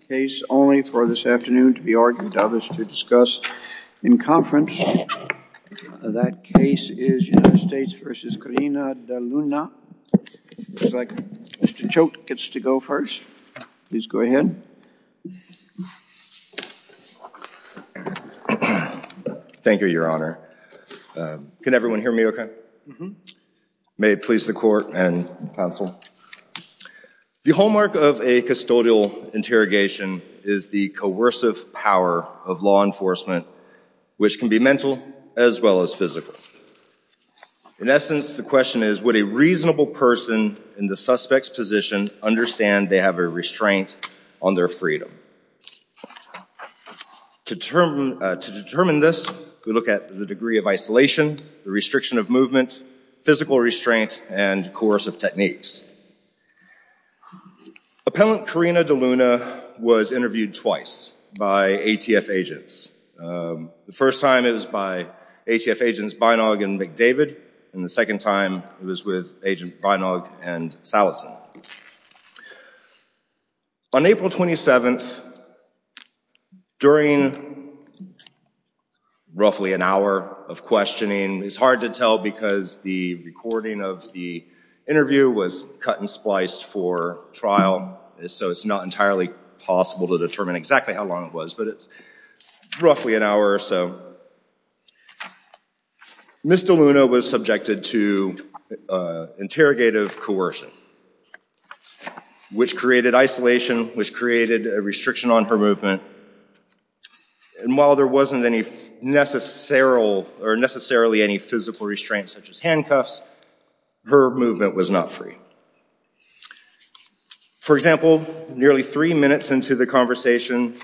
The case only for this afternoon to be argued of is to discuss in conference. That case is United States v. Corina Deluna. Looks like Mr. Choate gets to go first. Please go ahead. Thank you, Your Honor. Can everyone hear me okay? May it please the Court and Counsel. The hallmark of a custodial interrogation is the coercive power of law enforcement, which can be mental as well as physical. In essence, the question is, would a reasonable person in the suspect's position understand they have a restraint on their freedom? To determine this, we look at the degree of isolation, the restriction of movement, physical restraint, and coercive techniques. Appellant Corina Deluna was interviewed twice by ATF agents. The first time it was by ATF agents Beinog and McDavid, and the second time it was with Agent Beinog and Salatin. On April 27th, during roughly an hour of questioning, it's hard to tell because the recording of the interview was cut and spliced for trial, so it's not entirely possible to determine exactly how long it was, but it's roughly an hour or so, Ms. Deluna was subjected to interrogative coercion, which created isolation, which created a restriction on her movement. While there wasn't necessarily any physical restraint, such as handcuffs, her movement was not free. For example, nearly three minutes into the conversation,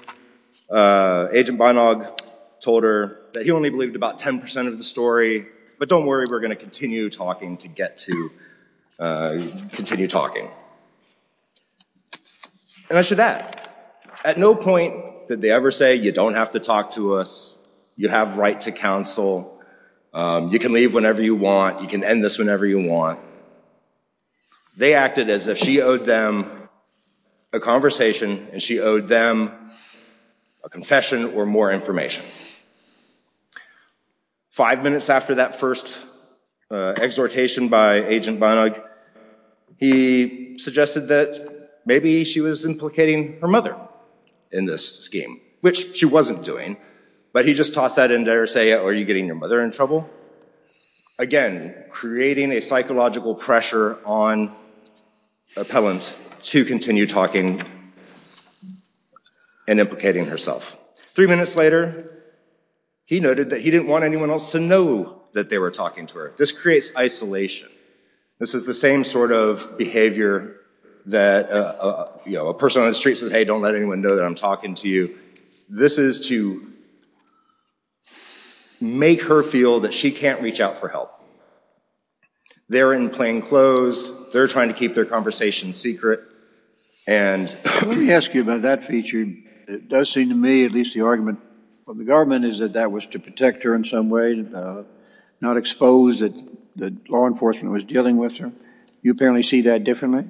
Agent Beinog told her that he believed about 10% of the story, but don't worry, we're going to continue talking to get to continue talking. And I should add, at no point did they ever say, you don't have to talk to us, you have right to counsel, you can leave whenever you want, you can end this whenever you want. They acted as if she owed them a conversation, and she owed them a confession or more information. Five minutes after that first exhortation by Agent Beinog, he suggested that maybe she was implicating her mother in this scheme, which she wasn't doing, but he just tossed that in there saying, are you getting your mother in trouble? Again, creating a psychological pressure on Appellant to continue talking and implicating herself. Three minutes later, he noted that he didn't want anyone else to know that they were talking to her. This creates isolation. This is the same sort of behavior that a person on the street says, hey, don't let anyone know that I'm talking to you. This is to make her feel that she can't reach out for help. They're in plain clothes, they're trying to keep their conversation secret, and- At least the argument from the government is that that was to protect her in some way, not expose that the law enforcement was dealing with her. You apparently see that differently?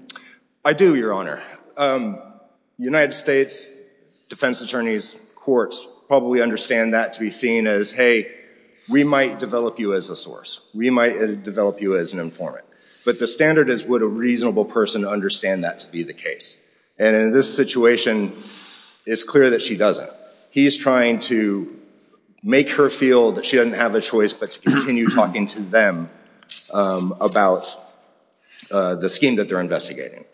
I do, Your Honor. United States defense attorneys, courts, probably understand that to be seen as, hey, we might develop you as a source. We might develop you as an informant. But the standard is, would a reasonable person understand that to be the case? And in this situation, it's clear that she doesn't. He's trying to make her feel that she doesn't have a choice, but to continue talking to them about the scheme that they're investigating.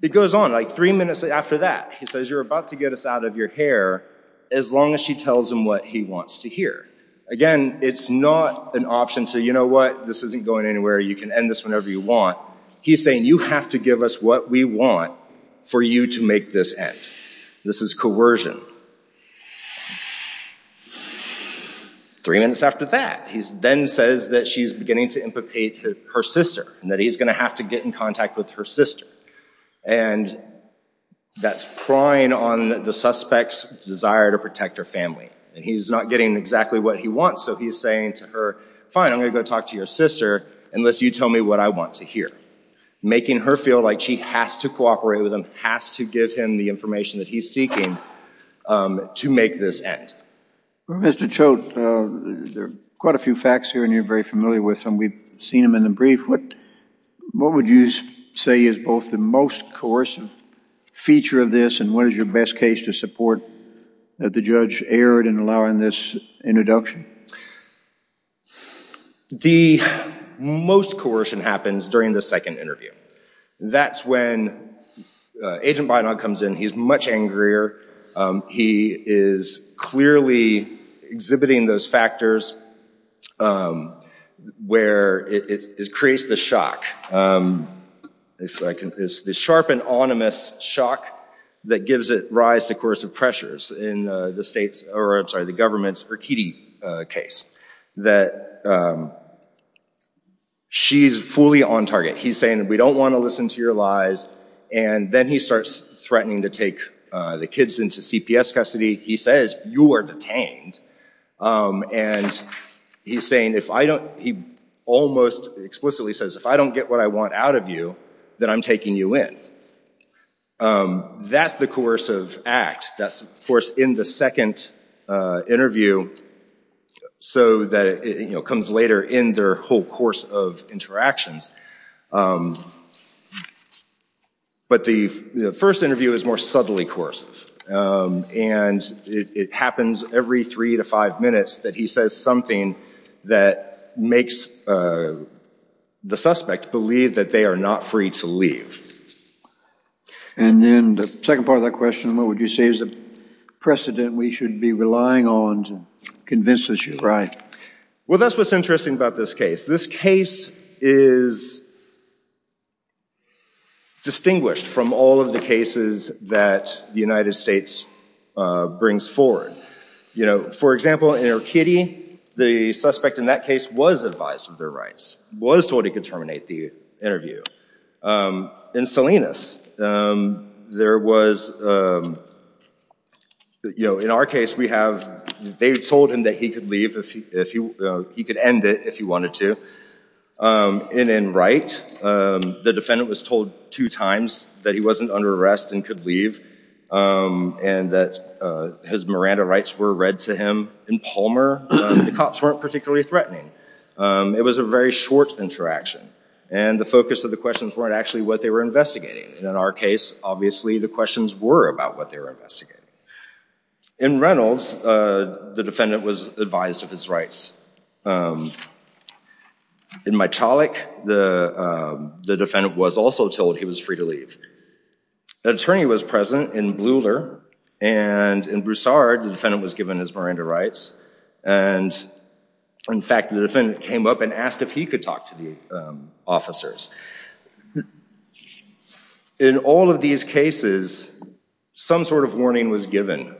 It goes on. Three minutes after that, he says, you're about to get us out of your hair, as long as she tells him what he wants to hear. Again, it's not an option to, you know what? This isn't going anywhere. You can end this whenever you want. He's saying, you have to give us what we want for you to make this end. This is coercion. Three minutes after that, he then says that she's beginning to implicate her sister, and that he's going to have to get in contact with her sister. And that's prying on the suspect's desire to protect her family. He's not getting exactly what he wants, so he's saying to her, fine, I'm going to go talk to your sister, unless you tell me what I want to hear. Making her feel like she has to cooperate with him, has to give him the information that he's seeking to make this end. Well, Mr. Choate, there are quite a few facts here, and you're very familiar with them. We've seen them in the brief. What would you say is both the most coercive feature of this, and what is your best case to support that the judge erred in allowing this introduction? Okay. The most coercion happens during the second interview. That's when Agent Bynock comes in. He's much angrier. He is clearly exhibiting those factors where it creates the shock, the sharp and onomous shock, that gives it rise to coercive pressures in the government's Urquidy case. She's fully on target. He's saying, we don't want to listen to your lies, and then he starts threatening to take the kids into CPS custody. He says, you are detained, and he almost explicitly says, if I don't get what I want out of you, then I'm taking you in. That's the coercive act. That's of course in the second interview, so that it comes later in their whole course of interactions. But the first interview is more subtly coercive, and it happens every three to five minutes that he says something that makes the suspect believe that they are not free to leave. And then the second part of that question, what would you say is the precedent we should be relying on to convince the jury? Well, that's what's interesting about this case. This case is distinguished from all of the cases that the United States brings forward. For example, in Urquidy, the suspect in that case was advised of their rights, was told he could terminate the interview. In Salinas, there was, in our case, they had told him that he could end it if he wanted to. And in Wright, the defendant was told two times that he wasn't under arrest and could leave, and that his Miranda rights were read to him. In Palmer, the cops weren't particularly threatening. It was a very short interaction, and the focus of the questions weren't actually what they were investigating. And in our case, obviously the questions were about what they were investigating. In Reynolds, the defendant was advised of his rights. In Mitallic, the defendant was also told he was free to leave. An attorney was present in Bleuler, and in Broussard, the defendant was given his Miranda rights. And in fact, the defendant came up and asked if he could talk to the officers. In all of these cases, some sort of warning was given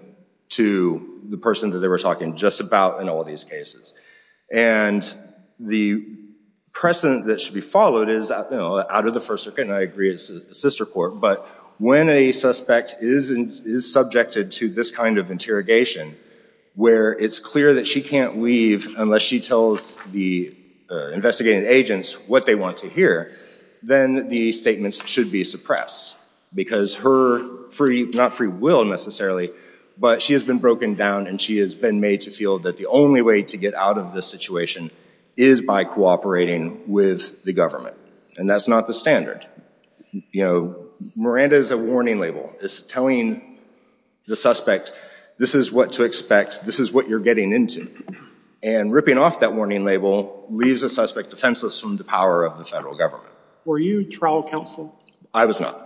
to the person that they were talking just about in all these cases. And the precedent that should be followed is, out of the First Circuit, and I agree it's a sister court, but when a suspect is subjected to this kind of interrogation, where it's clear that she can't leave unless she tells the investigating agents what they want to hear, then the statements should be suppressed. Because her free, not free will necessarily, but she has been broken down and she has been made to feel that the only way to get out of this situation is by cooperating with the government. And that's not the standard. You know, Miranda is a warning label. It's telling the suspect, this is what to expect, this is what you're getting into. And ripping off that warning label leaves a suspect defenseless from the power of the federal government. Were you trial counsel? I was not.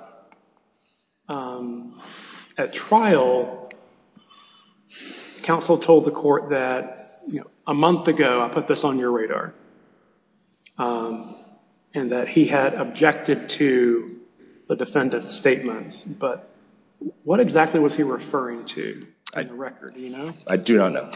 At trial, counsel told the court that, you know, a month ago, I put this on your radar. And that he had objected to the defendant's statements. But what exactly was he referring to in the record, do you know? I do not know.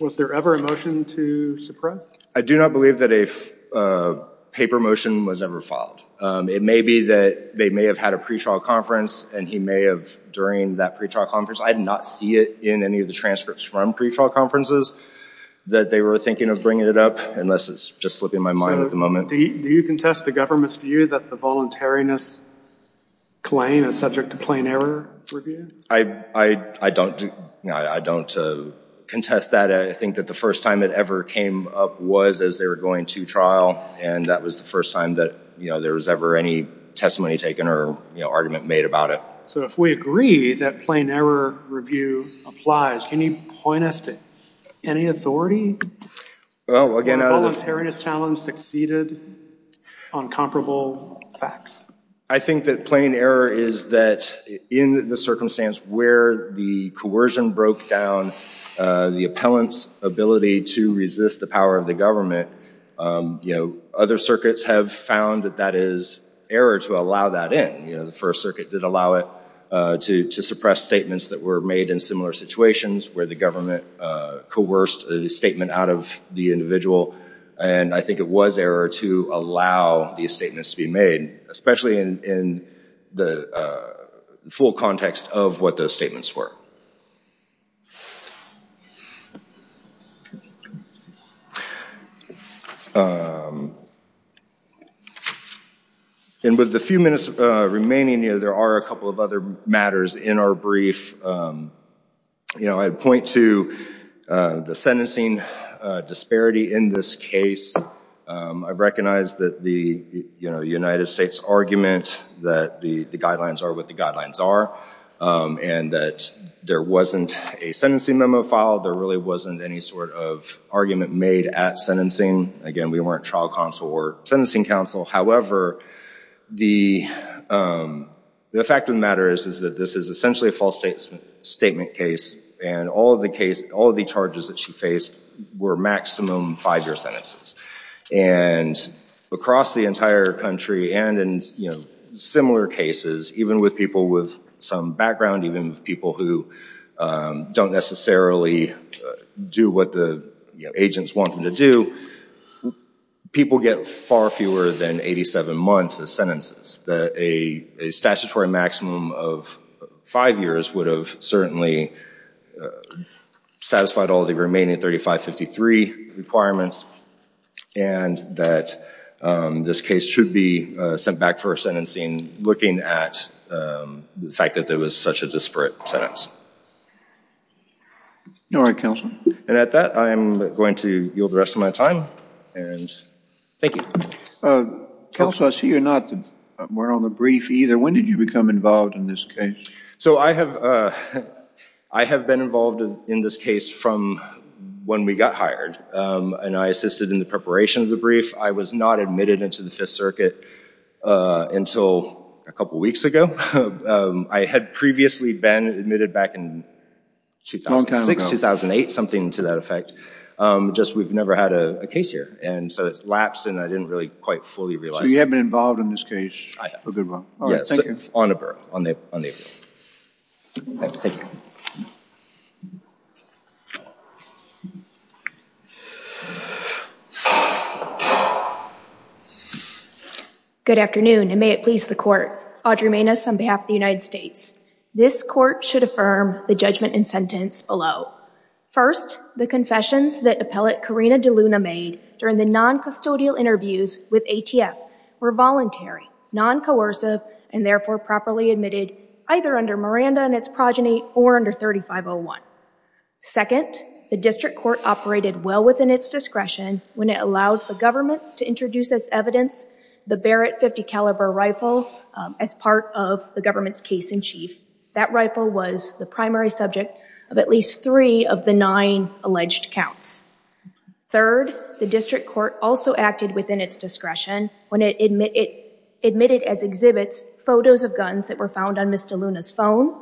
Was there ever a motion to suppress? I do not believe that a paper motion was ever filed. It may be that they may have had a pretrial conference and he may have, during that pretrial conference, I did not see it in any of the transcripts from pretrial conferences that they were thinking of bringing it up, unless it's just slipping my mind at the moment. Do you contest the government's view that the voluntariness claim is subject to plain error review? I don't contest that. I think that the first time it ever came up was as they were going to trial. And that was the first time that there was ever any testimony taken or argument made about it. So if we agree that plain error review applies, can you point us to any authority? Well, again, I don't know. The voluntariness challenge succeeded on comparable facts. I think that plain error is that in the circumstance where the coercion broke down the appellant's ability to resist the power of the government, other circuits have found that that is error to allow that in. The First Circuit did allow it to suppress statements that were made in similar situations where the government coerced a statement out of the individual. And I think it was error to allow these statements to be made, especially in the full context of what those statements were. And with the few minutes remaining here, there are a couple of other matters in our brief. I'd point to the sentencing disparity in this case. I recognize that the United States argument that the guidelines are what the guidelines are and that there wasn't a sentencing memo filed. There really wasn't any sort of argument made at sentencing. Again, we weren't trial counsel or sentencing counsel. However, the fact of the matter is that this is essentially a false statement case and all of the charges that she faced were maximum five-year sentences. And across the entire country and in similar cases, even with people with some background, even with people who don't necessarily do what the agents want them to do, people get far fewer than 87 months of sentences. A statutory maximum of five years would have certainly satisfied all of the remaining 3553 requirements and that this case should be sent back for sentencing looking at the fact that there was such a disparate sentence. All right, counsel. And at that, I'm going to yield the rest of my time and thank you. Counsel, I see you're not more on the brief either. When did you become involved in this case? So, I have been involved in this case from when we got hired and I assisted in the preparation of the brief. I was not admitted into the Fifth Circuit until a couple of weeks ago. I had previously been admitted back in 2006, 2008, something to that effect. Just we've never had a case here and so it's lapsed and I didn't really quite fully realize it. So, you have been involved in this case for a good while, all right, thank you. Yes, on the brief, on the brief. All right, thank you. Good afternoon and may it please the Court. Audrey Maness on behalf of the United States. This Court should affirm the judgment and sentence below. First, the confessions that appellate Karina DeLuna made during the non-custodial interviews with ATF were voluntary, non-coercive, and therefore properly admitted either under Miranda and its progeny or under 3501. Second, the District Court operated well within its discretion when it allowed the government to introduce as evidence the Barrett .50 caliber rifle as part of the government's case-in-chief. That rifle was the primary subject of at least three of the nine alleged counts. Third, the District Court also acted within its discretion when it admitted as exhibits photos of guns that were found on Ms. DeLuna's phone.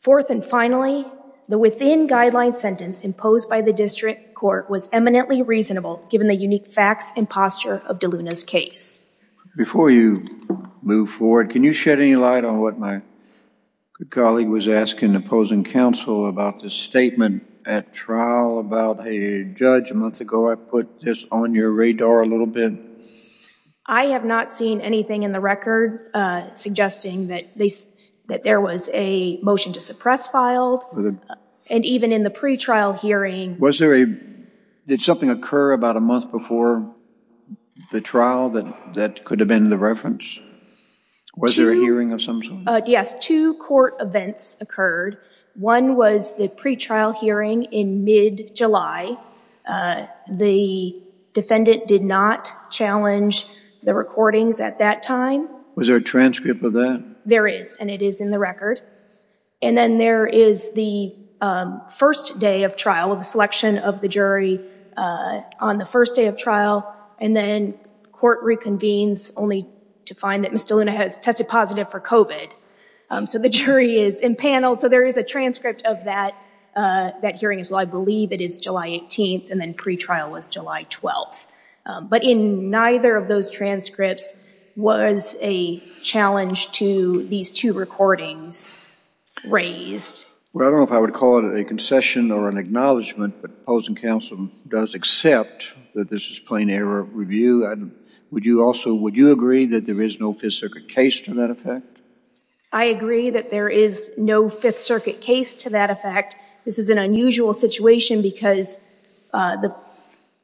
Fourth and finally, the within-guideline sentence imposed by the District Court was eminently reasonable given the unique facts and posture of DeLuna's case. Before you move forward, can you shed any light on what my good colleague was asking opposing counsel about the statement at trial about a judge a month ago? I put this on your radar a little bit. I have not seen anything in the record suggesting that there was a motion to suppress filed and even in the pretrial hearing. Did something occur about a month before the trial that could have been the reference? Was there a hearing of some sort? Yes. Two court events occurred. One was the pretrial hearing in mid-July. The defendant did not challenge the recordings at that time. Was there a transcript of that? There is, and it is in the record. And then there is the first day of trial, the selection of the jury on the first day of trial. And then court reconvenes only to find that Ms. DeLuna has tested positive for COVID. So the jury is impaneled. So there is a transcript of that hearing as well. I believe it is July 18th, and then pretrial was July 12th. But in neither of those transcripts was a challenge to these two recordings raised. Well, I don't know if I would call it a concession or an acknowledgment, but opposing counsel does accept that this is plain error review. Would you agree that there is no Fifth Circuit case to that effect? I agree that there is no Fifth Circuit case to that effect. This is an unusual situation because the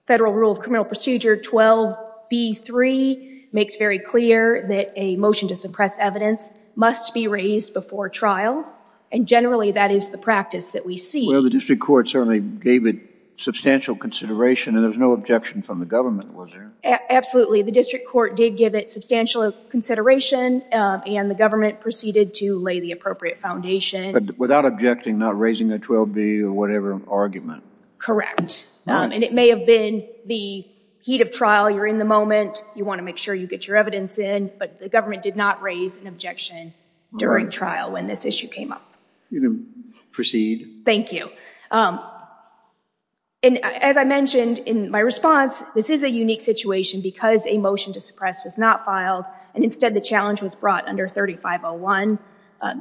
Federal Rule of Criminal Procedure 12b3 makes very clear that a motion to suppress evidence must be raised before trial. And generally, that is the practice that we see. Well, the district court certainly gave it substantial consideration, and there was no objection from the government, was there? Absolutely. The district court did give it substantial consideration, and the government proceeded to lay the appropriate foundation. But without objecting, not raising the 12b or whatever argument. Correct. And it may have been the heat of trial, you're in the moment, you want to make sure you get your evidence in, but the government did not raise an objection during trial when this issue came up. You can proceed. Thank you. And as I mentioned in my response, this is a unique situation because a motion to suppress was not filed, and instead the challenge was brought under 3501.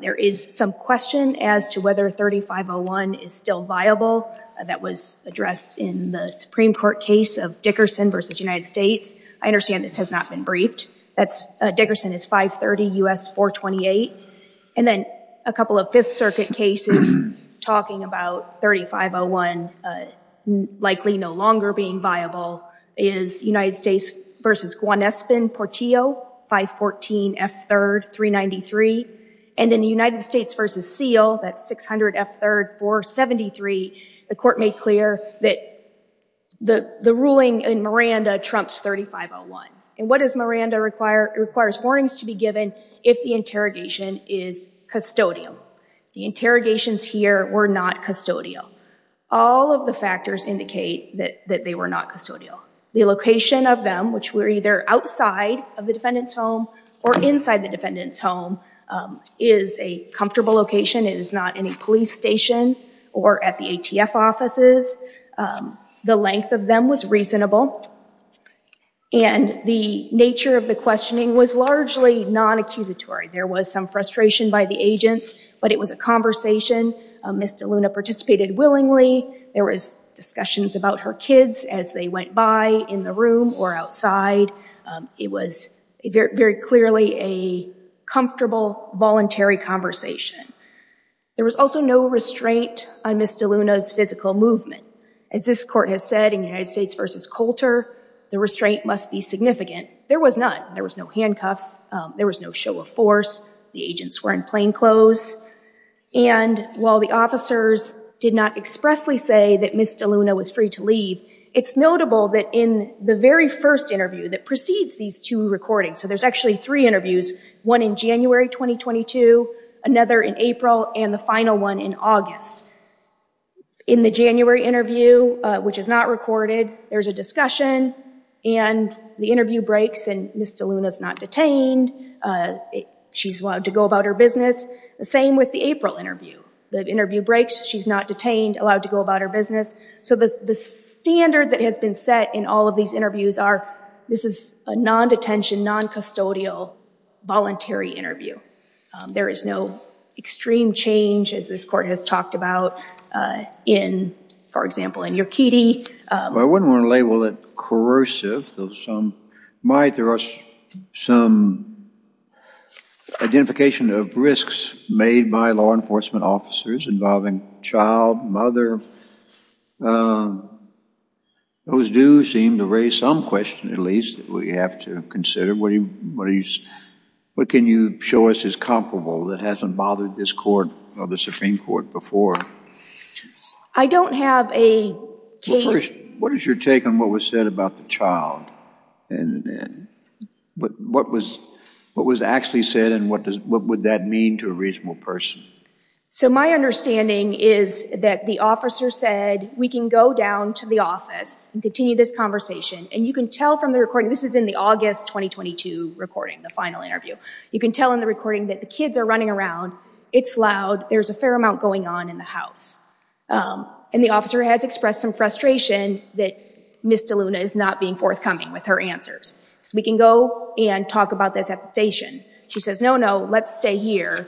There is some question as to whether 3501 is still viable. That was addressed in the Supreme Court case of Dickerson v. United States. I understand this has not been briefed. Dickerson is 530 U.S. 428. And then a couple of Fifth Circuit cases talking about 3501 likely no longer being viable is United States v. Gwanespin Portillo 514 F3rd 393. And in United States v. Seal, that's 600 F3rd 473, the court made clear that the ruling in Miranda trumps 3501. And what does Miranda require? It requires warnings to be given if the interrogation is custodial. The interrogations here were not custodial. All of the factors indicate that they were not custodial. The location of them, which were either outside of the defendant's home or inside the defendant's home, is a comfortable location. It is not in a police station or at the ATF offices. The length of them was reasonable. And the nature of the questioning was largely non-accusatory. There was some frustration by the agents, but it was a conversation. Ms. DeLuna participated willingly. There was discussions about her kids as they went by in the room or outside. It was very clearly a comfortable, voluntary conversation. There was also no restraint on Ms. DeLuna's physical movement. As this court has said in United States v. Coulter, the restraint must be significant. There was none. There was no handcuffs. There was no show of force. The agents were in plainclothes. And while the officers did not expressly say that Ms. DeLuna was free to leave, it's notable that in the very first interview that precedes these two recordings, so there's actually three interviews, one in January 2022, another in April, and the final one in August. In the January interview, which is not recorded, there's a discussion, and the interview breaks, and Ms. DeLuna's not detained. She's allowed to go about her business. The same with the April interview. The interview breaks. She's not detained, allowed to go about her business. So the standard that has been set in all of these interviews are, this is a non-detention, non-custodial, voluntary interview. There is no extreme change, as this court has talked about, in, for example, in your kitty. I wouldn't want to label it corrosive, though some might. There are some identification of risks made by law enforcement officers involving child, mother. Those do seem to raise some question, at least, that we have to consider. What can you show us is comparable that hasn't bothered this court or the Supreme Court before? I don't have a case. Well, first, what is your take on what was said about the child? And what was actually said, and what would that mean to a reasonable person? So my understanding is that the officer said, we can go down to the office and continue this conversation, and you can tell from the recording, this is in the August 2022 recording, the final interview. You can tell in the recording that the kids are running around, it's loud, there's a fair amount going on in the house. And the officer has expressed some frustration that Miss DeLuna is not being forthcoming with her answers. So we can go and talk about this at the station. She says, no, no, let's stay here.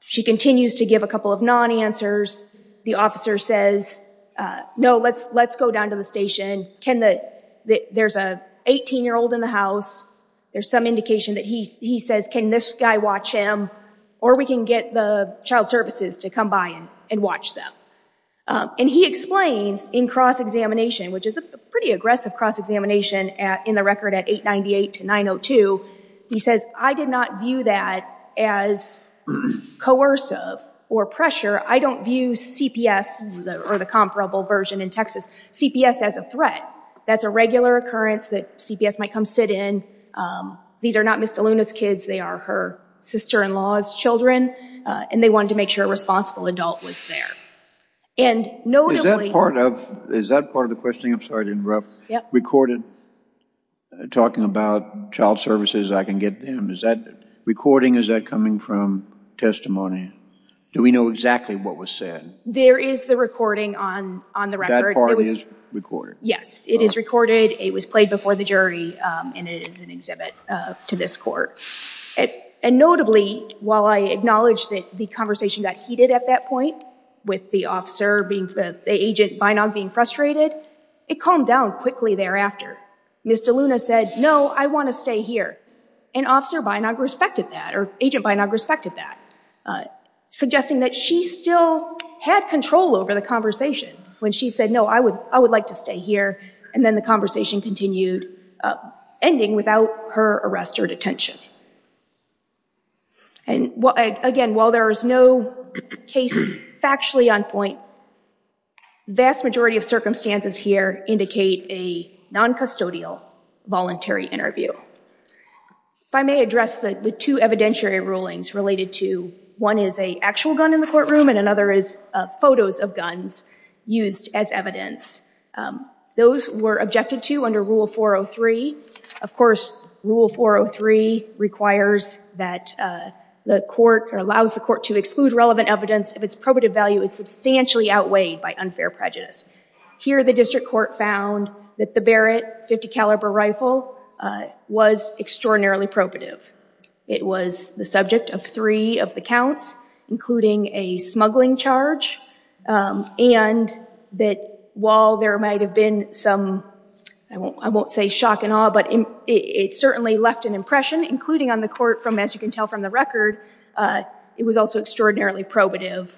She continues to give a couple of non-answers. The officer says, no, let's go down to the station. There's an 18-year-old in the house. There's some indication that he says, can this guy watch him? Or we can get the child services to come by and watch them. And he explains in cross-examination, which is a pretty aggressive cross-examination in the record at 898 to 902, he says, I did not view that as coercive or pressure. I don't view CPS, or the comparable version in Texas, CPS as a threat. That's a regular occurrence that CPS might come sit in. These are not Miss DeLuna's kids. They are her sister-in-law's children. And they wanted to make sure a responsible adult was there. And notably- Is that part of the questioning? I'm sorry to interrupt. Yeah. Recorded talking about child services, I can get them. Is that recording? Is that coming from testimony? Do we know exactly what was said? There is the recording on the record. That part is recorded? Yes. It is recorded. It was played before the jury. And it is an exhibit to this court. And notably, while I acknowledge that the conversation got heated at that point, with the agent Beinog being frustrated, it calmed down quickly thereafter. Miss DeLuna said, no, I want to stay here. And Officer Beinog respected that, or Agent Beinog respected that, suggesting that she still had control over the conversation when she said, no, I would like to stay here. And then the conversation continued, ending without her arrest or detention. And again, while there is no case factually on point, the vast majority of circumstances here indicate a non-custodial voluntary interview. If I may address the two evidentiary rulings related to, one is an actual gun in the courtroom, and another is photos of guns used as evidence. Those were objected to under Rule 403. Of course, Rule 403 requires that the court, or allows the court to exclude relevant evidence if its probative value is substantially outweighed by unfair prejudice. Here the district court found that the Barrett .50 caliber rifle was extraordinarily probative. It was the subject of three of the counts, including a smuggling charge, and that while there might have been some, I won't say shock and awe, but it certainly left an impression, including on the court from, as you can tell from the record, it was also extraordinarily probative.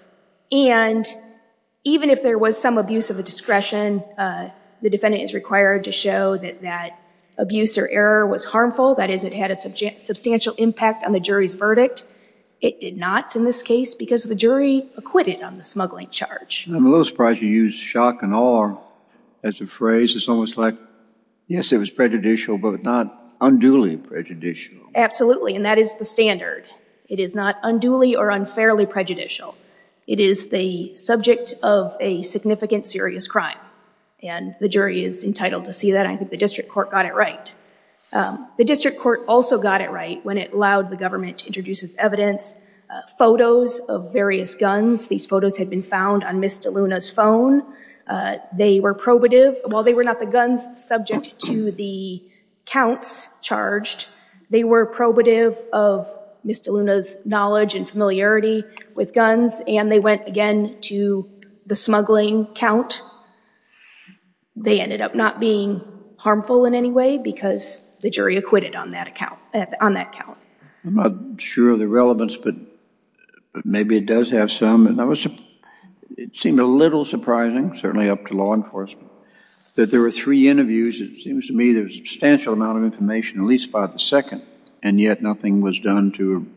And even if there was some abuse of a discretion, the defendant is required to show that that abuse or error was harmful, that is, it had a substantial impact on the jury's verdict. It did not in this case because the jury acquitted on the smuggling charge. I'm a little surprised you used shock and awe as a phrase. It's almost like, yes, it was prejudicial, but not unduly prejudicial. Absolutely, and that is the standard. It is not unduly or unfairly prejudicial. It is the subject of a significant serious crime, and the jury is entitled to see that. I think the district court got it right. The district court also got it right when it allowed the government to introduce as evidence photos of various guns. These photos had been found on Ms. DeLuna's phone. They were probative. While they were not the guns subject to the counts charged, they were probative of Ms. DeLuna's knowledge and familiarity with guns, and they went again to the smuggling count. They ended up not being harmful in any way because the jury acquitted on that count. I'm not sure of the relevance, but maybe it does have some. It seemed a little surprising, certainly up to law enforcement, that there were three interviews. It seems to me there was a substantial amount of information at least by the second, and yet nothing was done to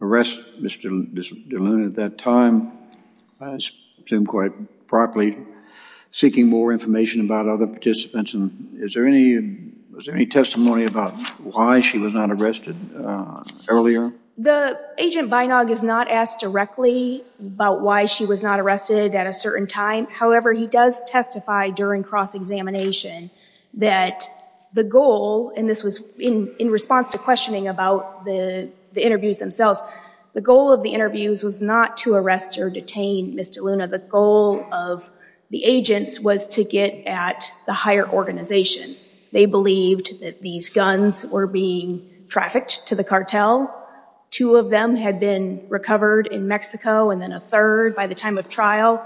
arrest Ms. DeLuna at that time. I assume quite probably seeking more information about other participants. Is there any testimony about why she was not arrested earlier? The agent Beinog is not asked directly about why she was not arrested at a certain time. However, he does testify during cross-examination that the goal, and this was in response to questioning about the interviews themselves, the goal of the interviews was not to arrest or detain Ms. DeLuna. The goal of the agents was to get at the higher organization. They believed that these guns were being trafficked to the cartel. Two of them had been recovered in Mexico, and then a third by the time of trial.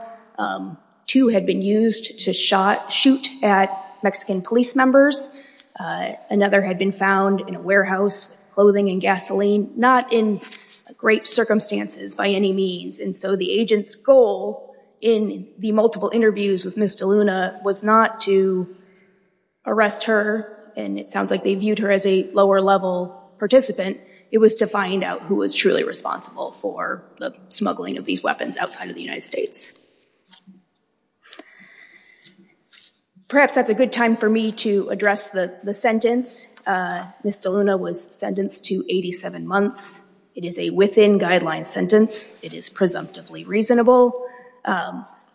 Two had been used to shoot at Mexican police members. Another had been found in a warehouse with clothing and gasoline, not in great circumstances by any means. And so the agent's goal in the multiple interviews with Ms. DeLuna was not to arrest her, and it sounds like they viewed her as a lower-level participant. It was to find out who was truly responsible for the smuggling of these weapons outside of the United States. Perhaps that's a good time for me to address the sentence. Ms. DeLuna was sentenced to 87 months. It is a within-guideline sentence. It is presumptively reasonable.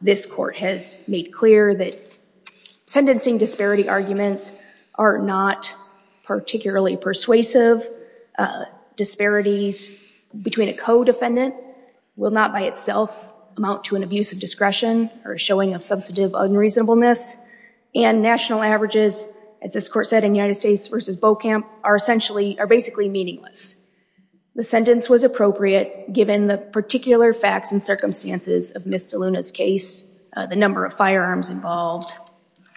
This court has made clear that sentencing disparity arguments are not particularly persuasive. Disparities between a co-defendant will not by itself amount to an abuse of discretion or showing of substantive unreasonableness. And national averages, as this court said in United States v. Beaucamp, are basically meaningless. The sentence was appropriate given the particular facts and circumstances of Ms. DeLuna's case, the number of firearms involved,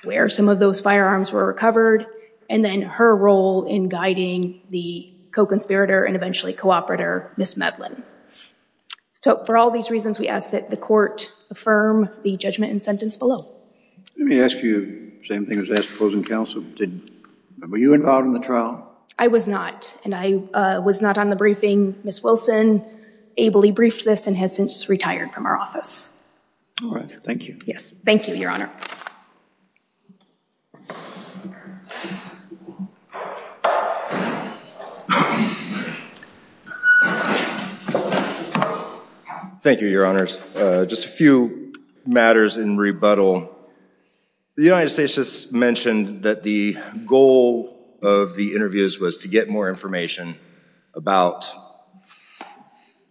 where some of those firearms were recovered, and then her role in guiding the co-conspirator and eventually cooperator, Ms. Medlin. So for all these reasons, we ask that the court affirm the judgment and sentence below. Let me ask you the same thing as I asked opposing counsel. Were you involved in the trial? I was not, and I was not on the briefing. Ms. Wilson ably briefed this and has since retired from our office. All right. Thank you. Yes. Thank you, Your Honor. Thank you, Your Honors. Just a few matters in rebuttal. The United States has mentioned that the goal of the interviews was to get more information about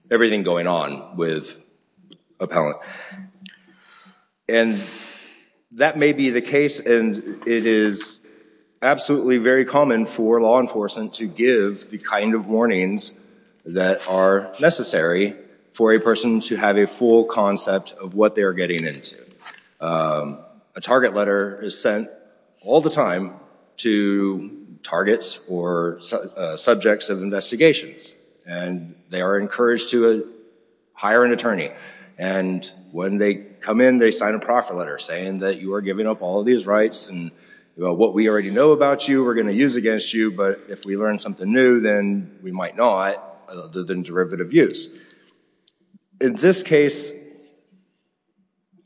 everything going on with appellant. And that may be the case, and it is absolutely very common for law enforcement to give the kind of warnings that are necessary for a person to have a full concept of what they are getting into. A target letter is sent all the time to targets or subjects of investigations, and they are encouraged to hire an attorney. And when they come in, they sign a proffer letter saying that you are giving up all of these rights and what we already know about you we're going to use against you, but if we learn something new, then we might not, other than derivative use. In this case,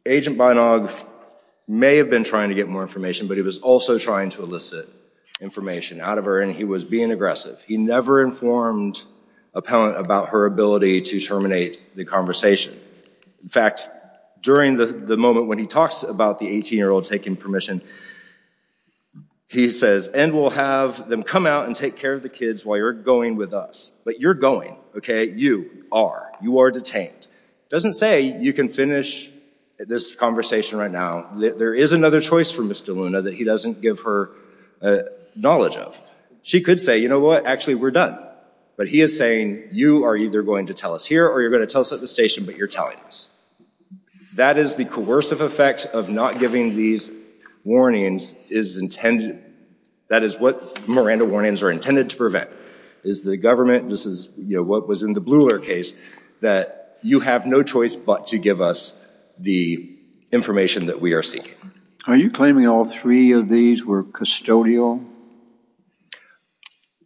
Agent Beinog may have been trying to get more information, but he was also trying to elicit information out of her, and he was being aggressive. He never informed appellant about her ability to terminate the conversation. In fact, during the moment when he talks about the 18-year-old taking permission, he says, and we'll have them come out and take care of the kids while you're going with us. But you're going, okay? You are. You are detained. It doesn't say you can finish this conversation right now. There is another choice for Mr. Luna that he doesn't give her knowledge of. She could say, you know what? Actually, we're done. But he is saying, you are either going to tell us here or you're going to tell us at the station, but you're telling us. That is the coercive effect of not giving these warnings is intended. That is what Miranda warnings are intended to prevent, is the government, this is what was in the Bluhler case, that you have no choice but to give us the information that we are seeking. Are you claiming all three of these were custodial?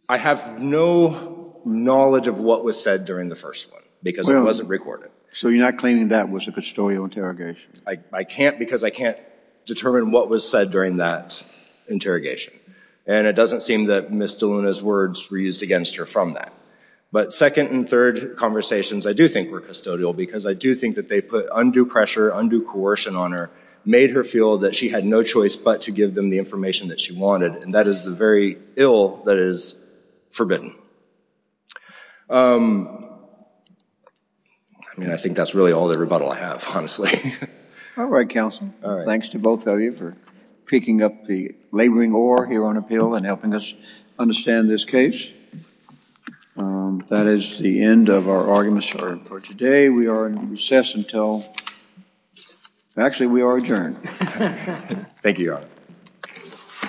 I have no knowledge of what was said during the first one because it wasn't recorded. So you're not claiming that was a custodial interrogation? I can't because I can't determine what was said during that interrogation. And it doesn't seem that Ms. DeLuna's words were used against her from that. But second and third conversations, I do think were custodial because I do think that they put undue pressure, undue coercion on her, made her feel that she had no choice but to give them the information that she wanted. And that is the very ill that is forbidden. I mean, I think that's really all the rebuttal I have, honestly. All right, Counsel. Thanks to both of you for picking up the laboring oar here on appeal and helping us understand this case. That is the end of our arguments for today. We are in recess until – actually, we are adjourned. Thank you, Your Honor.